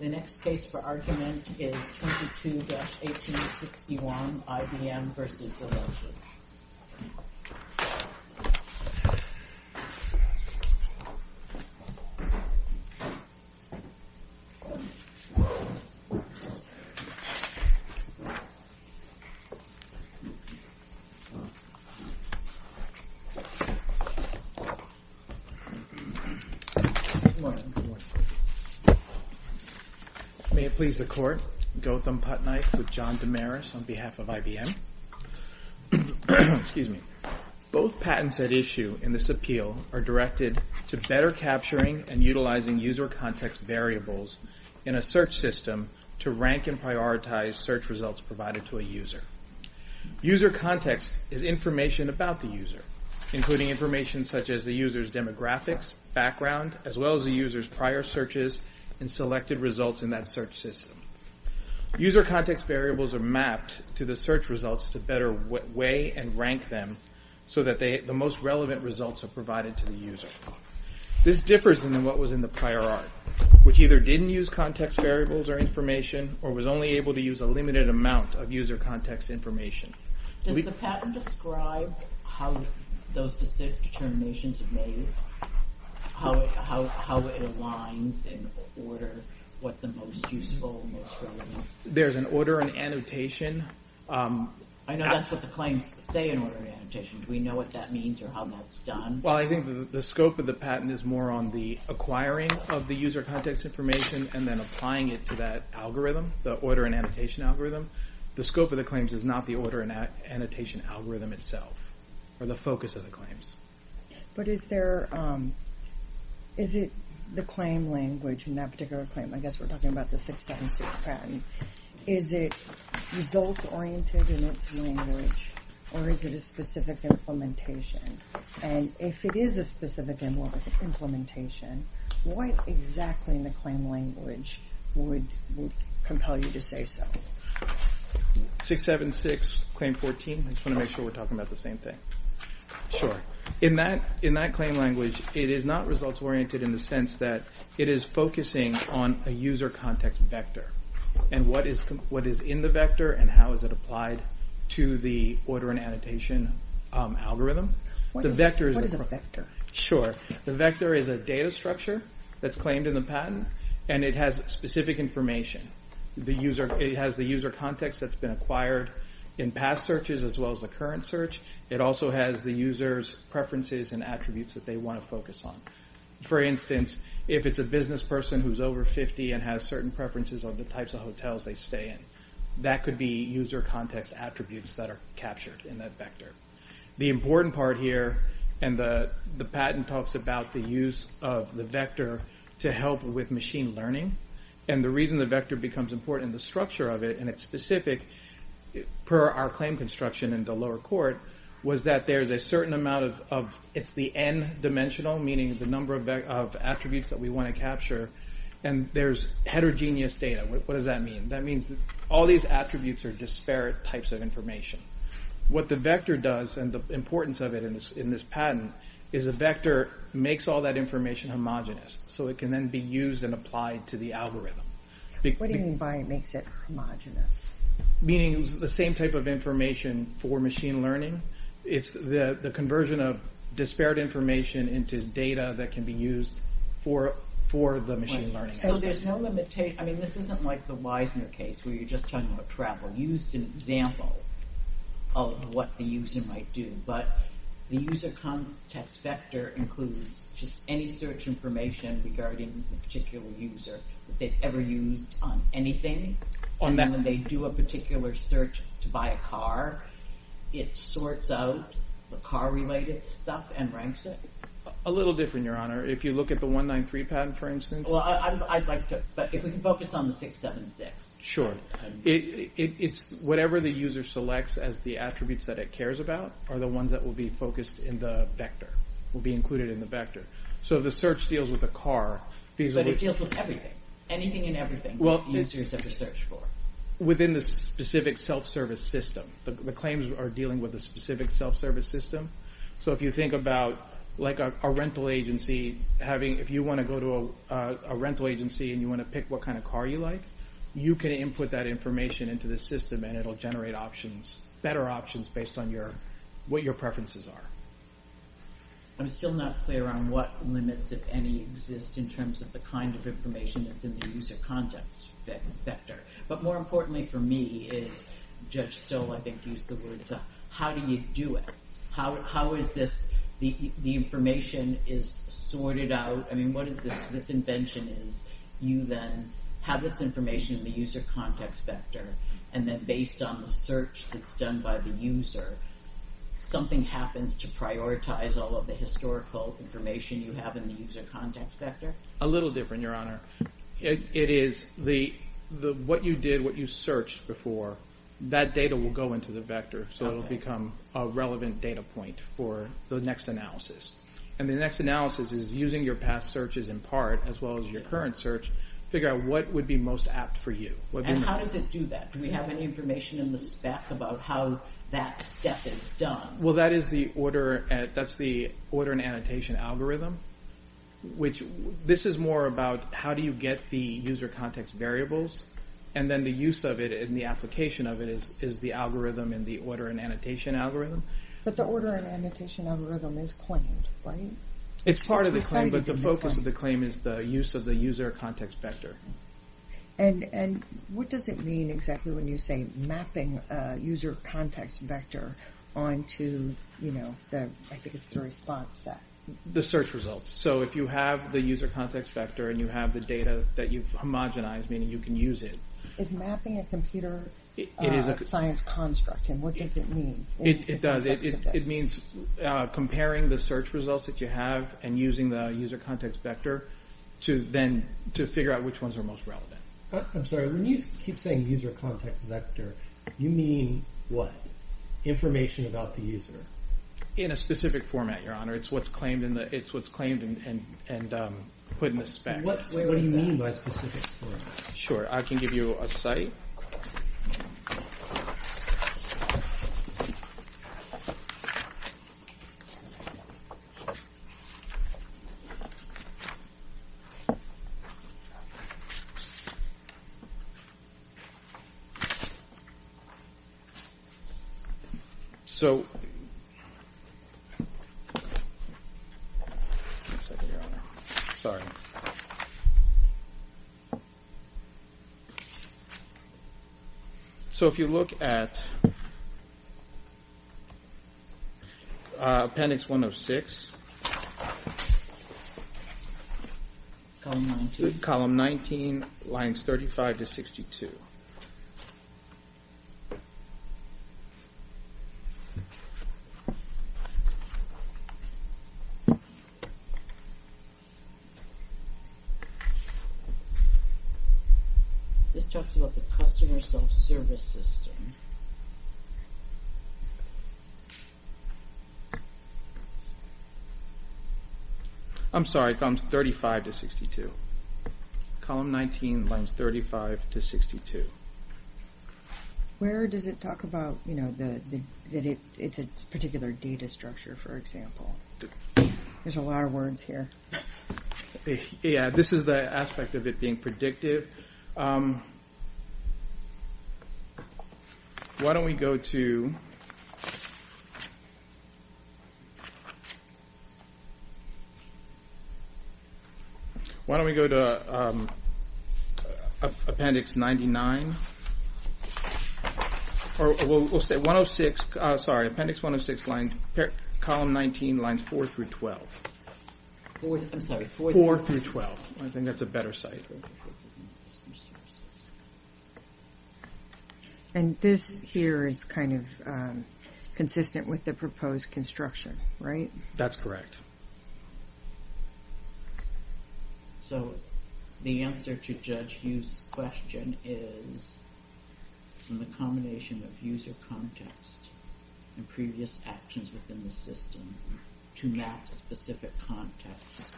The next case for argument is 22-1861, IBM v. Zillow Group. May it please the Court, Gautham Putnike with John Damaris on behalf of IBM. Both patents at issue in this appeal are directed to better capturing and utilizing user context variables in a search system to rank and prioritize search results provided to a user. User context is information about the user, including information such as the user's demographics, background, as well as the user's prior searches and selected results in that search system. User context variables are mapped to the search results to better weigh and rank them so that the most relevant results are provided to the user. This differs than what was in the prior art, which either didn't use context variables or information or was only able to use a limited amount of user context information. Does the patent describe how those determinations are made? How it aligns in order what the most useful, most relevant? There's an order and annotation. I know that's what the claims say in order and annotation. Do we know what that means or how that's done? Well, I think the scope of the patent is more on the acquiring of the user context information and then applying it to that algorithm, the order and annotation algorithm. The scope of the claims is not the order and annotation algorithm itself or the focus of the claims. But is it the claim language in that particular claim? I guess we're talking about the 676 patent. Is it result-oriented in its language or is it a specific implementation? And if it is a specific implementation, what exactly in the claim language would compel you to say so? 676, claim 14. I just want to make sure we're talking about the same thing. Sure. In that claim language, it is not result-oriented in the sense that it is focusing on a user context vector and what is in the vector and how is it applied to the order and annotation algorithm. What is a vector? Sure. The vector is a data structure that's claimed in the patent and it has specific information. It has the user context that's been acquired in past searches as well as the current search. It also has the user's preferences and attributes that they want to focus on. For instance, if it's a business person who's over 50 and has certain preferences on the types of hotels they stay in, that could be user context attributes that are captured in that vector. The important part here and the patent talks about the use of the vector to help with machine learning and the reason the vector becomes important, the structure of it, and it's specific per our claim construction in the lower court, was that there's a certain amount of, it's the n-dimensional, meaning the number of attributes that we want to capture, and there's heterogeneous data. What does that mean? That means that all these attributes are disparate types of information. What the vector does and the importance of it in this patent is the vector makes all that information homogenous so it can then be used and applied to the algorithm. What do you mean by it makes it homogenous? Meaning the same type of information for machine learning. It's the conversion of disparate information into data that can be used for the machine learning. So there's no limitation, I mean this isn't like the Wiesner case where you're just talking about travel. You used an example of what the user might do, but the user context vector includes just any search information regarding a particular user that they've ever used on anything, and then when they do a particular search to buy a car, it sorts out the car-related stuff and ranks it? A little different, Your Honor. If you look at the 193 patent, for instance. Well, I'd like to, but if we can focus on the 676. Sure. Whatever the user selects as the attributes that it cares about are the ones that will be focused in the vector, will be included in the vector. So the search deals with a car. But it deals with everything, anything and everything that the user has ever searched for. Within the specific self-service system. The claims are dealing with the specific self-service system. So if you think about like a rental agency, if you want to go to a rental agency and you want to pick what kind of car you like, you can input that information into the system and it will generate better options based on what your preferences are. I'm still not clear on what limits, if any, exist in terms of the kind of information that's in the user context vector. But more importantly for me is, Judge Stoll, I think, used the words, how do you do it? How is this, the information is sorted out? I mean, what is this invention is you then have this information in the user context vector and then based on the search that's done by the user, something happens to prioritize all of the historical information you have in the user context vector? A little different, Your Honor. It is the, what you did, what you searched before, that data will go into the vector. So it will become a relevant data point for the next analysis. And the next analysis is using your past searches in part, as well as your current search, figure out what would be most apt for you. And how does it do that? Do we have any information in the spec about how that step is done? Well, that is the order, that's the order and annotation algorithm, which this is more about how do you get the user context variables and then the use of it and the application of it is the algorithm in the order and annotation algorithm. But the order and annotation algorithm is claimed, right? It's part of the claim, but the focus of the claim is the use of the user context vector. And what does it mean exactly when you say mapping user context vector onto, you know, I think it's the response that... The search results. So if you have the user context vector and you have the data that you've homogenized, meaning you can use it. Is mapping a computer science construct and what does it mean? It does. It means comparing the search results that you have and using the user context vector to then, to figure out which ones are most relevant. I'm sorry, when you keep saying user context vector, you mean what? Information about the user? In a specific format, Your Honor. It's what's claimed and put in the spec. What do you mean by specific format? Sure. I can give you a site. So. Sorry. So if you look at appendix 106. Column 19 lines 35 to 62. This talks about the customer self-service system. I'm sorry, columns 35 to 62. Column 19 lines 35 to 62. Where does it talk about, you know, that it's a particular data structure, for example? There's a lot of words here. Yeah, this is the aspect of it being predictive. Why don't we go to. Why don't we go to appendix 99? Or we'll say 106, sorry, appendix 106 line, column 19 lines 4 through 12. I'm sorry, 4 through 12. I think that's a better site. And this here is kind of consistent with the proposed construction, right? That's correct. So the answer to Judge Hughes' question is in the combination of user context and previous actions within the system to map specific context.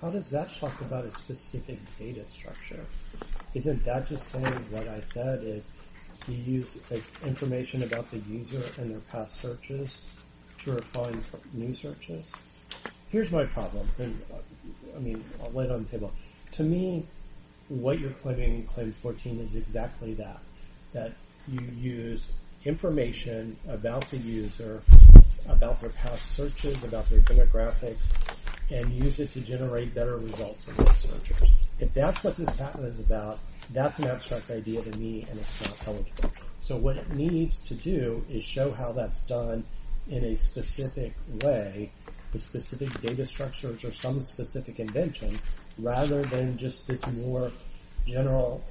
How does that talk about a specific data structure? Isn't that just saying what I said is you use information about the user and their past searches to refine new searches? Here's my problem. I mean, I'll lay it on the table. To me, what you're putting in claim 14 is exactly that, that you use information about the user, about their past searches, about their demographics, and use it to generate better results in those searches. If that's what this patent is about, that's an abstract idea to me, and it's not how it's done. So what it needs to do is show how that's done in a specific way, with specific data structures or some specific invention, rather than just this more general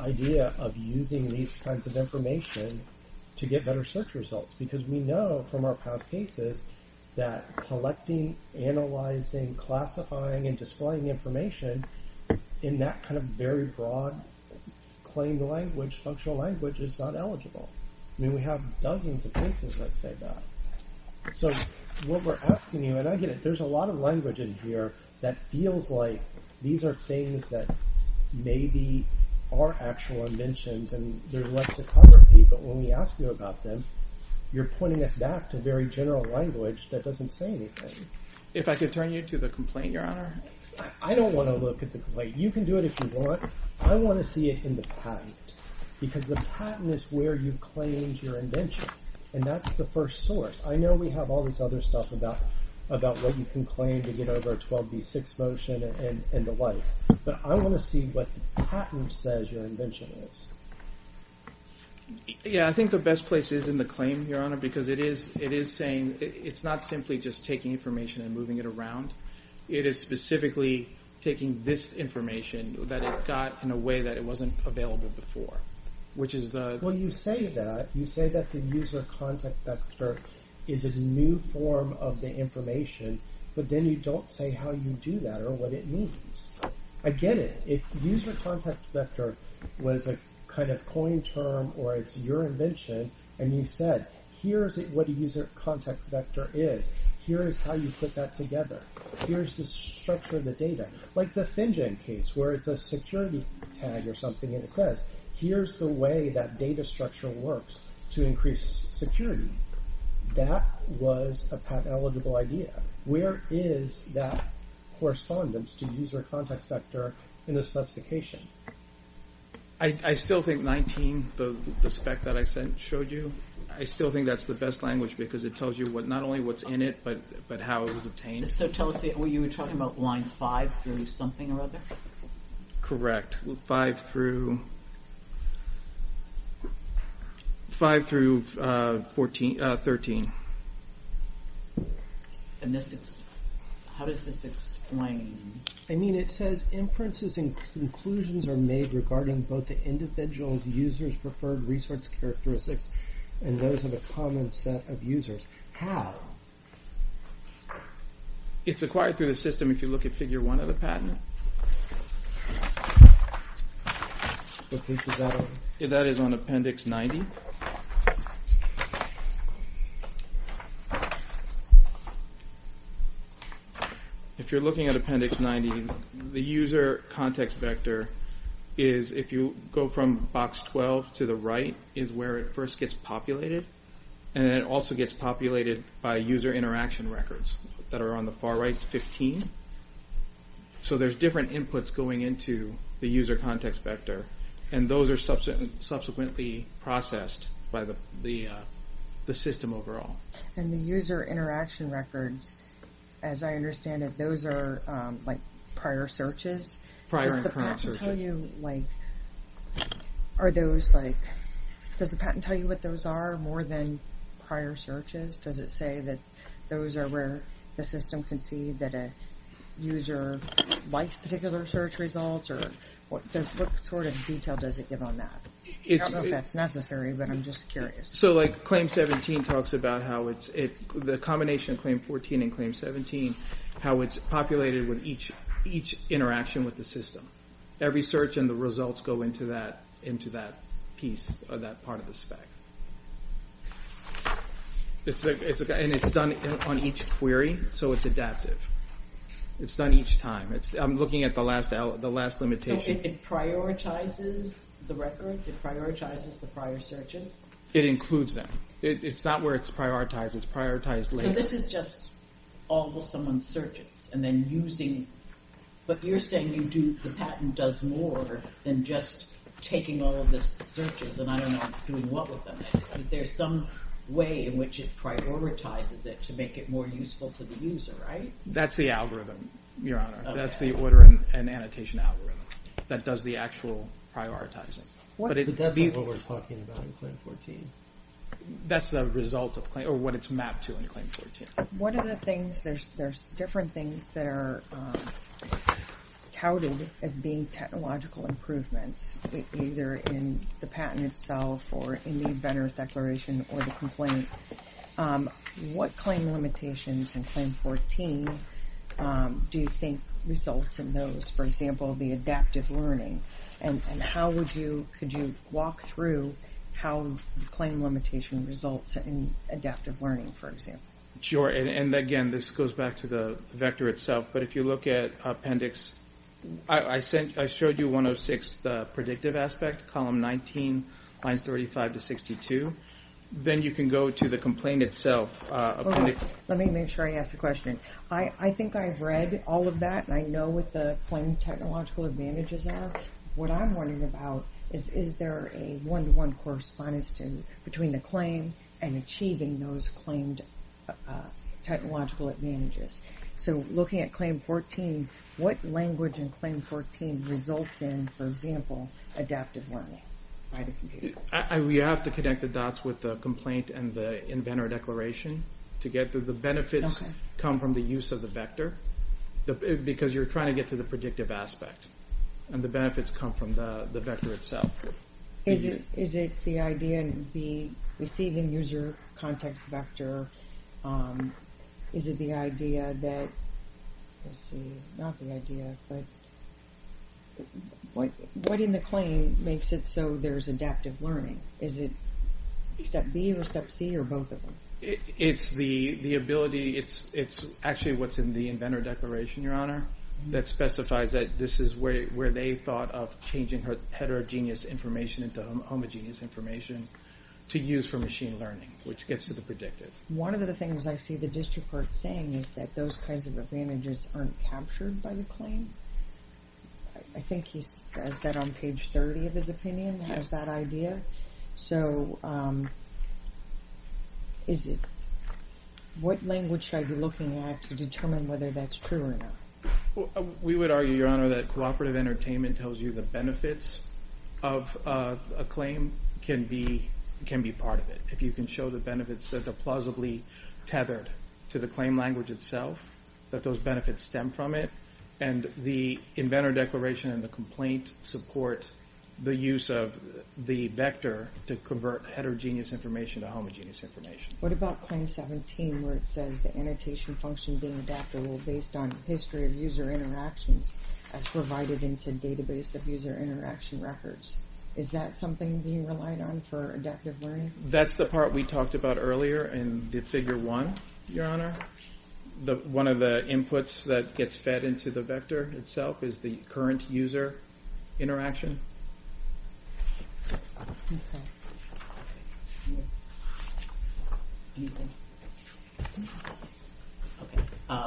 idea of using these kinds of information to get better search results. Because we know from our past cases that collecting, analyzing, classifying, and displaying information in that kind of very broad claimed language, functional language, is not eligible. I mean, we have dozens of cases that say that. So what we're asking you, and I get it, there's a lot of language in here that feels like these are things that maybe are actual inventions, and there's lexicography, but when we ask you about them, you're pointing us back to very general language that doesn't say anything. If I could turn you to the complaint, Your Honor. I don't want to look at the complaint. You can do it if you want. I want to see it in the patent, because the patent is where you claimed your invention, and that's the first source. I know we have all this other stuff about what you can claim to get over a 12b6 motion and the like, but I want to see what the patent says your invention is. Yeah, I think the best place is in the claim, Your Honor, because it is saying it's not simply just taking information and moving it around. It is specifically taking this information that it got in a way that it wasn't available before, which is the… Well, you say that. You say that the user contact vector is a new form of the information, but then you don't say how you do that or what it means. I get it. If user contact vector was a kind of coin term or it's your invention, and you said, here's what a user contact vector is. Here's how you put that together. Here's the structure of the data. Like the FinGen case, where it's a security tag or something, and it says, here's the way that data structure works to increase security. That was a patent-eligible idea. Where is that correspondence to user contact vector in the specification? I still think 19, the spec that I showed you, I still think that's the best language because it tells you not only what's in it, but how it was obtained. So tell us, you were talking about lines 5 through something or other? Correct. 5 through 13. How does this explain? I mean, it says, inferences and conclusions are made regarding both the individual's user's preferred resource characteristics, and those of a common set of users. How? It's acquired through the system if you look at Figure 1 of the patent. What page is that on? That is on Appendix 90. If you're looking at Appendix 90, the user context vector is, if you go from Box 12 to the right, is where it first gets populated. And it also gets populated by user interaction records that are on the far right, 15. So there's different inputs going into the user context vector, and those are subsequently processed by the system overall. And the user interaction records, as I understand it, those are like prior searches? Prior and current searches. Does the patent tell you what those are more than prior searches? Does it say that those are where the system can see that a user likes particular search results, or what sort of detail does it give on that? I don't know if that's necessary, but I'm just curious. So, like, Claim 17 talks about how the combination of Claim 14 and Claim 17, how it's populated with each interaction with the system. Every search and the results go into that piece, or that part of the spec. And it's done on each query, so it's adaptive. It's done each time. I'm looking at the last limitation. So it prioritizes the records? It prioritizes the prior searches? It includes them. It's not where it's prioritized. It's prioritized later. So this is just all of someone's searches, and then using... But you're saying the patent does more than just taking all of the searches, and I don't know doing what with them. There's some way in which it prioritizes it to make it more useful to the user, right? That's the algorithm, Your Honor. That's the order and annotation algorithm that does the actual prioritizing. But that's not what we're talking about in Claim 14. That's the result of what it's mapped to in Claim 14. One of the things, there's different things that are touted as being technological improvements, either in the patent itself or in the inventor's declaration or the complaint. What claim limitations in Claim 14 do you think result in those? For example, the adaptive learning. Could you walk through how the claim limitation results in adaptive learning, for example? Sure, and again, this goes back to the vector itself. But if you look at appendix, I showed you 106, the predictive aspect, column 19, lines 35 to 62. Then you can go to the complaint itself. Let me make sure I ask the question. I think I've read all of that, and I know what the claim technological advantages are. What I'm wondering about is, is there a one-to-one correspondence between the claim and achieving those claimed technological advantages? So looking at Claim 14, what language in Claim 14 results in, for example, adaptive learning by the computer? We have to connect the dots with the complaint and the inventor declaration to get to the benefits come from the use of the vector because you're trying to get to the predictive aspect, and the benefits come from the vector itself. Is it the idea in the receiving user context vector, is it the idea that, let's see, not the idea, but what in the claim makes it so there's adaptive learning? Is it step B or step C or both of them? It's the ability, it's actually what's in the inventor declaration, Your Honor, that specifies that this is where they thought of changing heterogeneous information into homogeneous information to use for machine learning, which gets to the predictive. One of the things I see the district court saying is that those kinds of advantages aren't captured by the claim. I think he says that on page 30 of his opinion, has that idea. So what language should I be looking at to determine whether that's true or not? We would argue, Your Honor, that cooperative entertainment tells you the benefits of a claim can be part of it if you can show the benefits that are plausibly tethered to the claim language itself, that those benefits stem from it, and the inventor declaration and the complaint support the use of the vector to convert heterogeneous information to homogeneous information. What about Claim 17 where it says the annotation function being adaptable based on history of user interactions as provided into database of user interaction records? Is that something being relied on for adaptive learning? That's the part we talked about earlier in Figure 1, Your Honor. One of the inputs that gets fed into the vector itself is the current user interaction.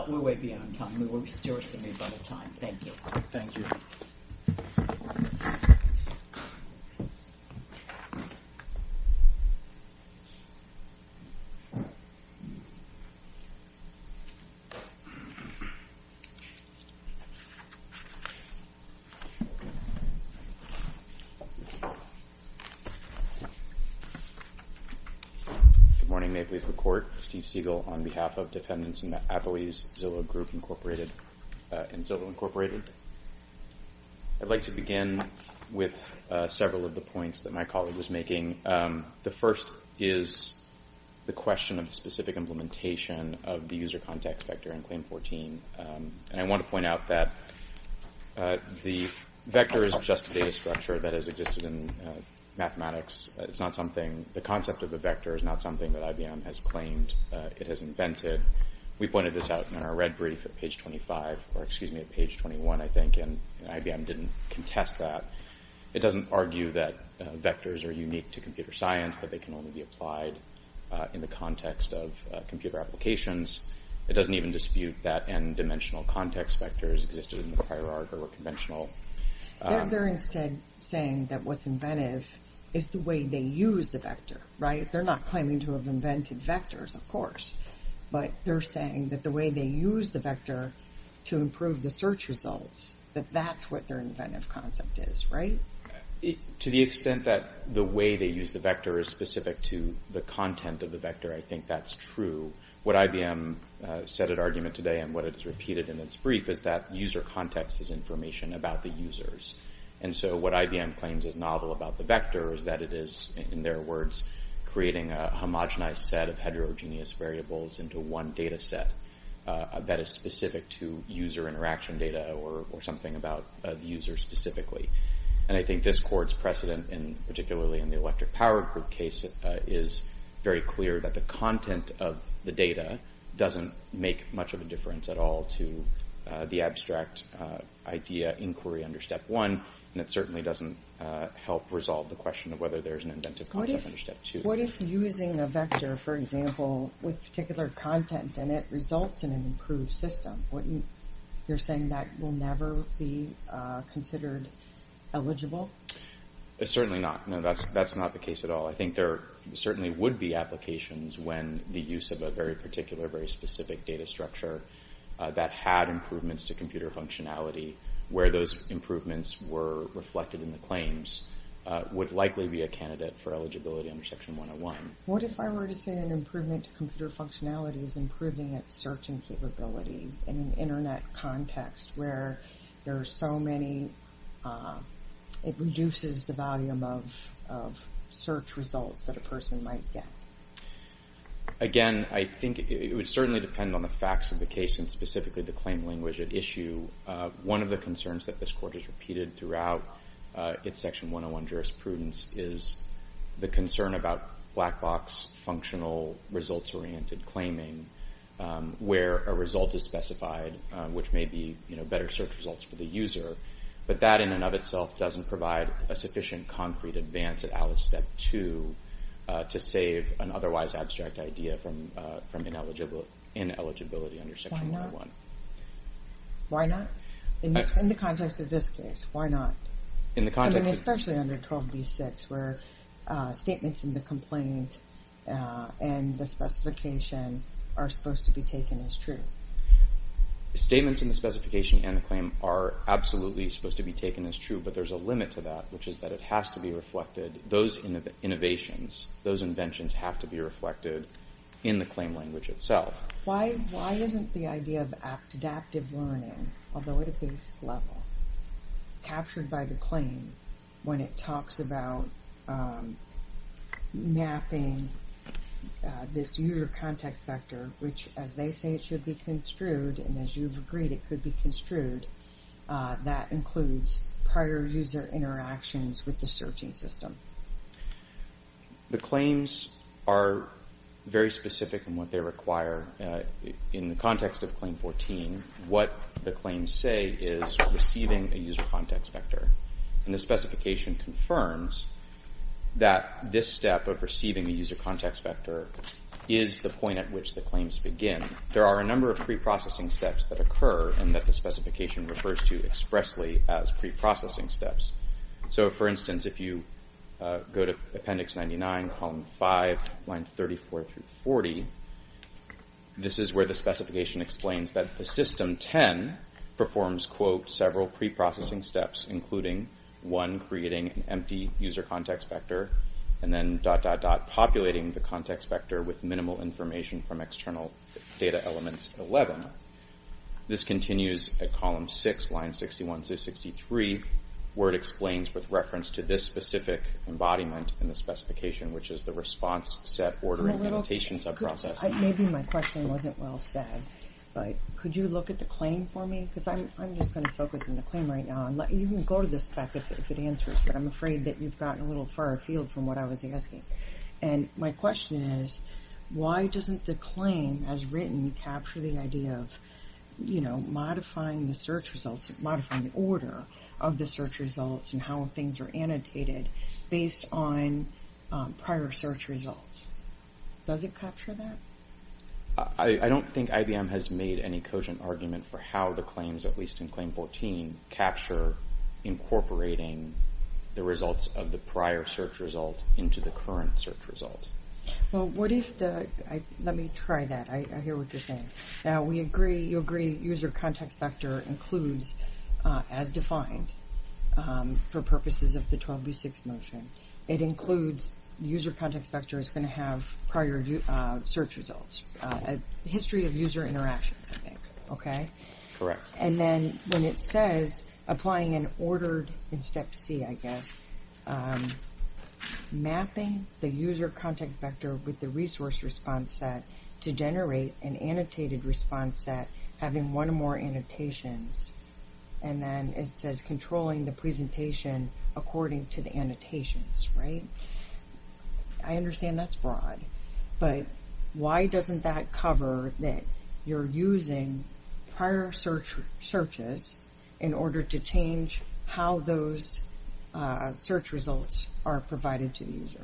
We're way beyond time. We're still receiving a lot of time. Thank you. Thank you. Good morning. May it please the Court. Steve Siegel on behalf of Defendants in the Apoese Zillow Group Incorporated and Zillow Incorporated. I'd like to begin with several of the points that my colleague was making. The first is the question of specific implementation of the user context vector in Claim 14. I want to point out that the vector is just a data structure that has existed in mathematics. The concept of a vector is not something that IBM has claimed it has invented. We pointed this out in our red brief at page 21, I think, and IBM didn't contest that. It doesn't argue that vectors are unique to computer science, that they can only be applied in the context of computer applications. It doesn't even dispute that n-dimensional context vectors existed in the hierarchy or were conventional. They're instead saying that what's inventive is the way they use the vector, right? They're not claiming to have invented vectors, of course, but they're saying that the way they use the vector to improve the search results, that that's what their inventive concept is, right? To the extent that the way they use the vector is specific to the content of the vector, I think that's true. What IBM said at argument today and what it has repeated in its brief is that user context is information about the users. And so what IBM claims is novel about the vector is that it is, in their words, creating a homogenized set of heterogeneous variables into one data set that is specific to user interaction data or something about the user specifically. And I think this court's precedent, particularly in the electric power group case, is very clear that the content of the data doesn't make much of a difference at all to the abstract idea inquiry under Step 1, and it certainly doesn't help resolve the question of whether there's an inventive concept under Step 2. What if using a vector, for example, with particular content in it results in an improved system? You're saying that will never be considered eligible? Certainly not. No, that's not the case at all. I think there certainly would be applications when the use of a very particular, very specific data structure that had improvements to computer functionality, where those improvements were reflected in the claims, would likely be a candidate for eligibility under Section 101. What if I were to say an improvement to computer functionality is improving its searching capability in an Internet context where there are so many, it reduces the volume of search results that a person might get? Again, I think it would certainly depend on the facts of the case and specifically the claim language at issue. One of the concerns that this Court has repeated throughout its Section 101 jurisprudence is the concern about black box functional results-oriented claiming where a result is specified, which may be better search results for the user, but that in and of itself doesn't provide a sufficient concrete advance at Alice Step 2 to save an otherwise abstract idea from ineligibility under Section 101. Why not? In the context of this case, why not? Especially under 12b-6 where statements in the complaint and the specification are supposed to be taken as true. Statements in the specification and the claim are absolutely supposed to be taken as true, but there's a limit to that, which is that it has to be reflected, those innovations, those inventions have to be reflected in the claim language itself. Why isn't the idea of adaptive learning, although at a basic level, captured by the claim when it talks about mapping this user context vector, which as they say it should be construed and as you've agreed it could be construed, that includes prior user interactions with the searching system? The claims are very specific in what they require. In the context of Claim 14, what the claims say is receiving a user context vector and the specification confirms that this step of receiving a user context vector is the point at which the claims begin. There are a number of preprocessing steps that occur and that the specification refers to expressly as preprocessing steps. For instance, if you go to Appendix 99, Column 5, Lines 34 through 40, this is where the specification explains that the System 10 performs several preprocessing steps, including one creating an empty user context vector and then dot, dot, dot, populating the context vector with minimal information from external data elements 11. This continues at Column 6, Lines 61 through 63, where it explains with reference to this specific embodiment in the specification, which is the response set ordering meditation subprocess. Maybe my question wasn't well said, but could you look at the claim for me? Because I'm just going to focus on the claim right now. You can go to the spec if it answers, but I'm afraid that you've gotten a little far afield from what I was asking. My question is, why doesn't the claim as written capture the idea of modifying the search results, modifying the order of the search results and how things are annotated based on prior search results? Does it capture that? I don't think IBM has made any cogent argument for how the claims, at least in Claim 14, capture incorporating the results of the prior search result into the current search result. Let me try that. I hear what you're saying. Now, you agree user context vector includes, as defined for purposes of the 12b6 motion, it includes user context vector is going to have prior search results. A history of user interactions, I think. Correct. And then when it says applying an ordered in step C, I guess, mapping the user context vector with the resource response set to generate an annotated response set, having one or more annotations. And then it says controlling the presentation according to the annotations, right? I understand that's broad. But why doesn't that cover that you're using prior searches in order to change how those search results are provided to the user?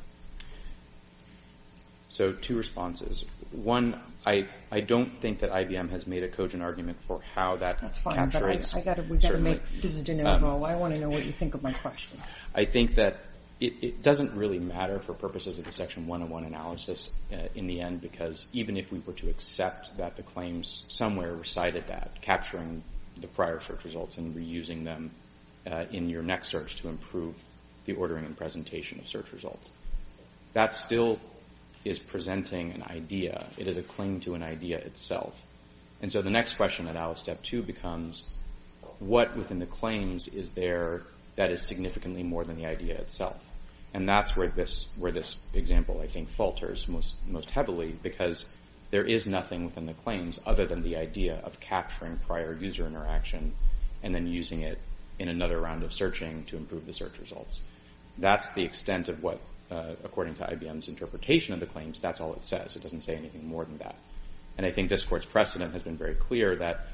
So two responses. One, I don't think that IBM has made a cogent argument for how that captures. That's fine, but we've got to make this de novo. I want to know what you think of my question. I think that it doesn't really matter for purposes of the Section 101 analysis in the end, because even if we were to accept that the claims somewhere recited that, capturing the prior search results and reusing them in your next search to improve the ordering and presentation of search results, that still is presenting an idea. It is a claim to an idea itself. And so the next question at ALICE Step 2 becomes, what within the claims is there that is significantly more than the idea itself? And that's where this example, I think, falters most heavily because there is nothing within the claims other than the idea of capturing prior user interaction and then using it in another round of searching to improve the search results. That's the extent of what, according to IBM's interpretation of the claims, that's all it says. It doesn't say anything more than that. And I think this Court's precedent has been very clear that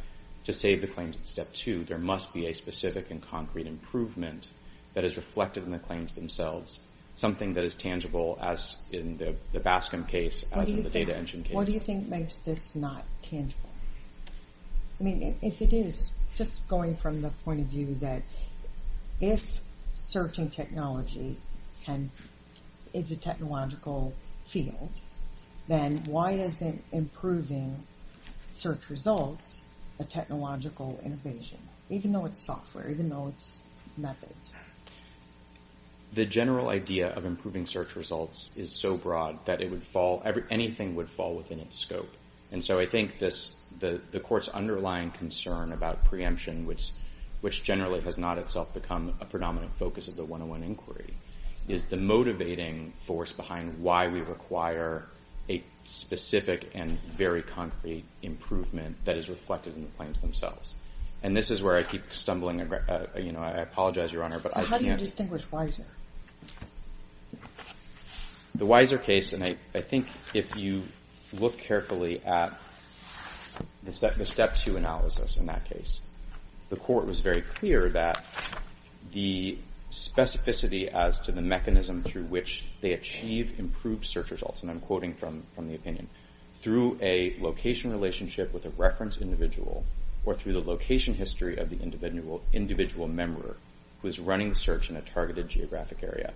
to save the claims at Step 2, there must be a specific and concrete improvement that is reflected in the claims themselves, something that is tangible as in the BASCM case, as in the Data Engine case. What do you think makes this not tangible? I mean, if it is, just going from the point of view that if searching technology is a technological field, then why isn't improving search results a technological innovation, even though it's software, even though it's methods? The general idea of improving search results is so broad that anything would fall within its scope. And so I think the Court's underlying concern about preemption, which generally has not itself become a predominant focus of the 101 Inquiry, is the motivating force behind why we require a specific and very concrete improvement that is reflected in the claims themselves. And this is where I keep stumbling. I apologize, Your Honor, but I can't... How do you distinguish Weiser? The Weiser case, and I think if you look carefully at the Step 2 analysis in that case, the Court was very clear that the specificity as to the mechanism through which they achieve improved search results, and I'm quoting from the opinion, through a location relationship with a reference individual or through the location history of the individual member who is running the search in a targeted geographic area,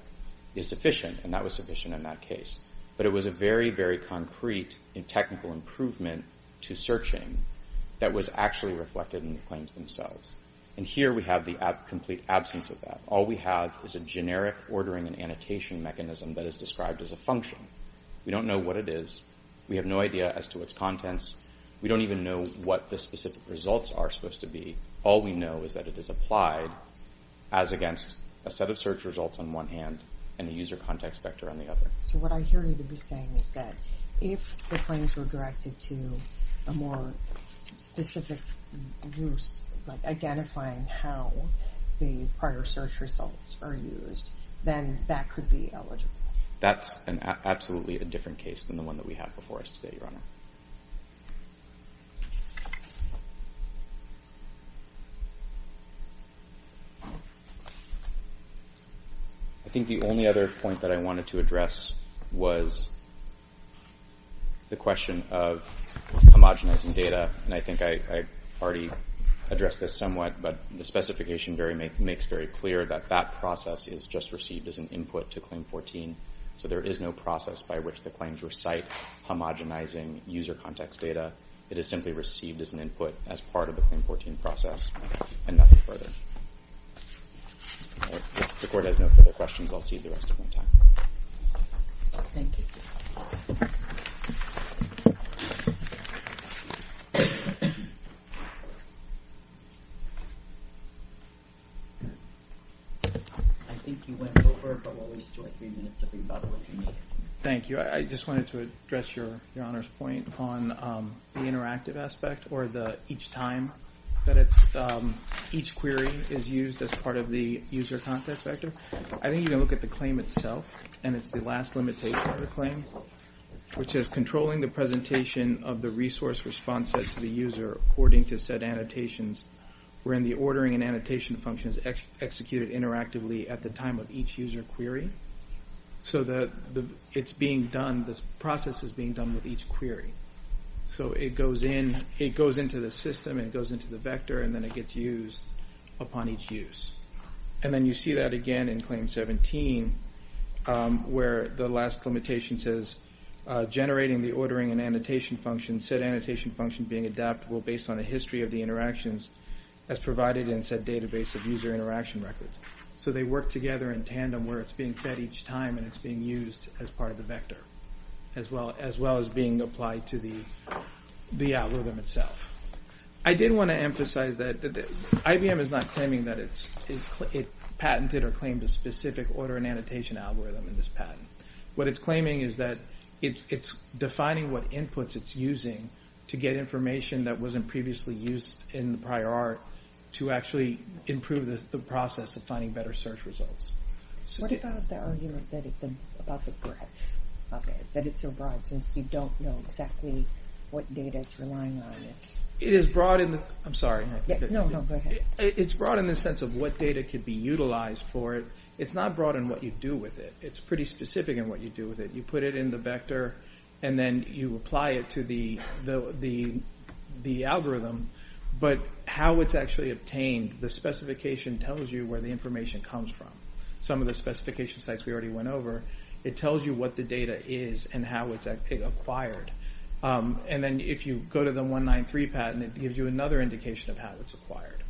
is sufficient, and that was sufficient in that case. But it was a very, very concrete and technical improvement to searching that was actually reflected in the claims themselves. And here we have the complete absence of that. All we have is a generic ordering and annotation mechanism that is described as a function. We don't know what it is. We have no idea as to its contents. We don't even know what the specific results are supposed to be. All we know is that it is applied as against a set of search results on one hand and a user context vector on the other. So what I hear you to be saying is that if the claims were directed to a more specific use, like identifying how the prior search results are used, then that could be eligible. That's absolutely a different case than the one that we have before us today, Your Honor. I think the only other point that I wanted to address was the question of homogenizing data. And I think I already addressed this somewhat, but the specification makes very clear that that process is just received as an input to Claim 14. So there is no process by which the claims recite homogenizing user context data. It is simply received as an input as part of the Claim 14 process and nothing further. If the Court has no further questions, I'll cede the rest of my time. Thank you. I think you went over, but we'll at least do three minutes of rebuttal if you need. Thank you. I just wanted to address Your Honor's point on the interactive aspect, or each time that each query is used as part of the user context vector. I think you can look at the claim itself, and it's the last limitation of the claim, which is controlling the presentation of the resource response set to the user according to said annotations, wherein the ordering and annotation function is executed interactively at the time of each user query so that the process is being done with each query. So it goes into the system, it goes into the vector, and then it gets used upon each use. And then you see that again in Claim 17, where the last limitation says generating the ordering and annotation function, said annotation function being adaptable based on a history of the interactions as provided in said database of user interaction records. So they work together in tandem where it's being fed each time and it's being used as part of the vector, as well as being applied to the algorithm itself. I did want to emphasize that IBM is not claiming that it patented or claimed a specific ordering and annotation algorithm in this patent. What it's claiming is that it's defining what inputs it's using to get information that wasn't previously used in the prior art to actually improve the process of finding better search results. What about the argument about the breadth of it, that it's so broad since you don't know exactly what data it's relying on? It is broad in the... I'm sorry. No, no, go ahead. It's broad in the sense of what data can be utilized for it. It's not broad in what you do with it. It's pretty specific in what you do with it. You put it in the vector, and then you apply it to the algorithm. But how it's actually obtained, the specification tells you where the information comes from. Some of the specification sites we already went over, it tells you what the data is and how it's acquired. And then if you go to the 193 patent, it gives you another indication of how it's acquired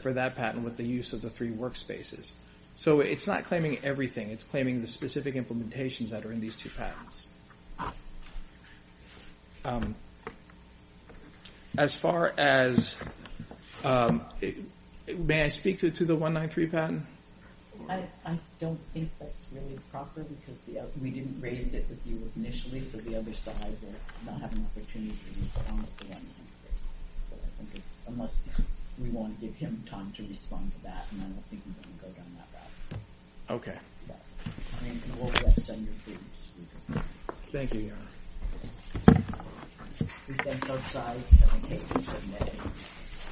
for that patent with the use of the three workspaces. So it's not claiming everything. It's claiming the specific implementations that are in these two patents. As far as... May I speak to the 193 patent? I don't think that's really proper because we didn't raise it with you initially, so the other side will not have an opportunity to respond to 193. So I think it's unless we want to give him time to respond to that, and I don't think we're going to go down that route. Okay. We'll rest on your feet. Thank you, Your Honor. We thank both sides.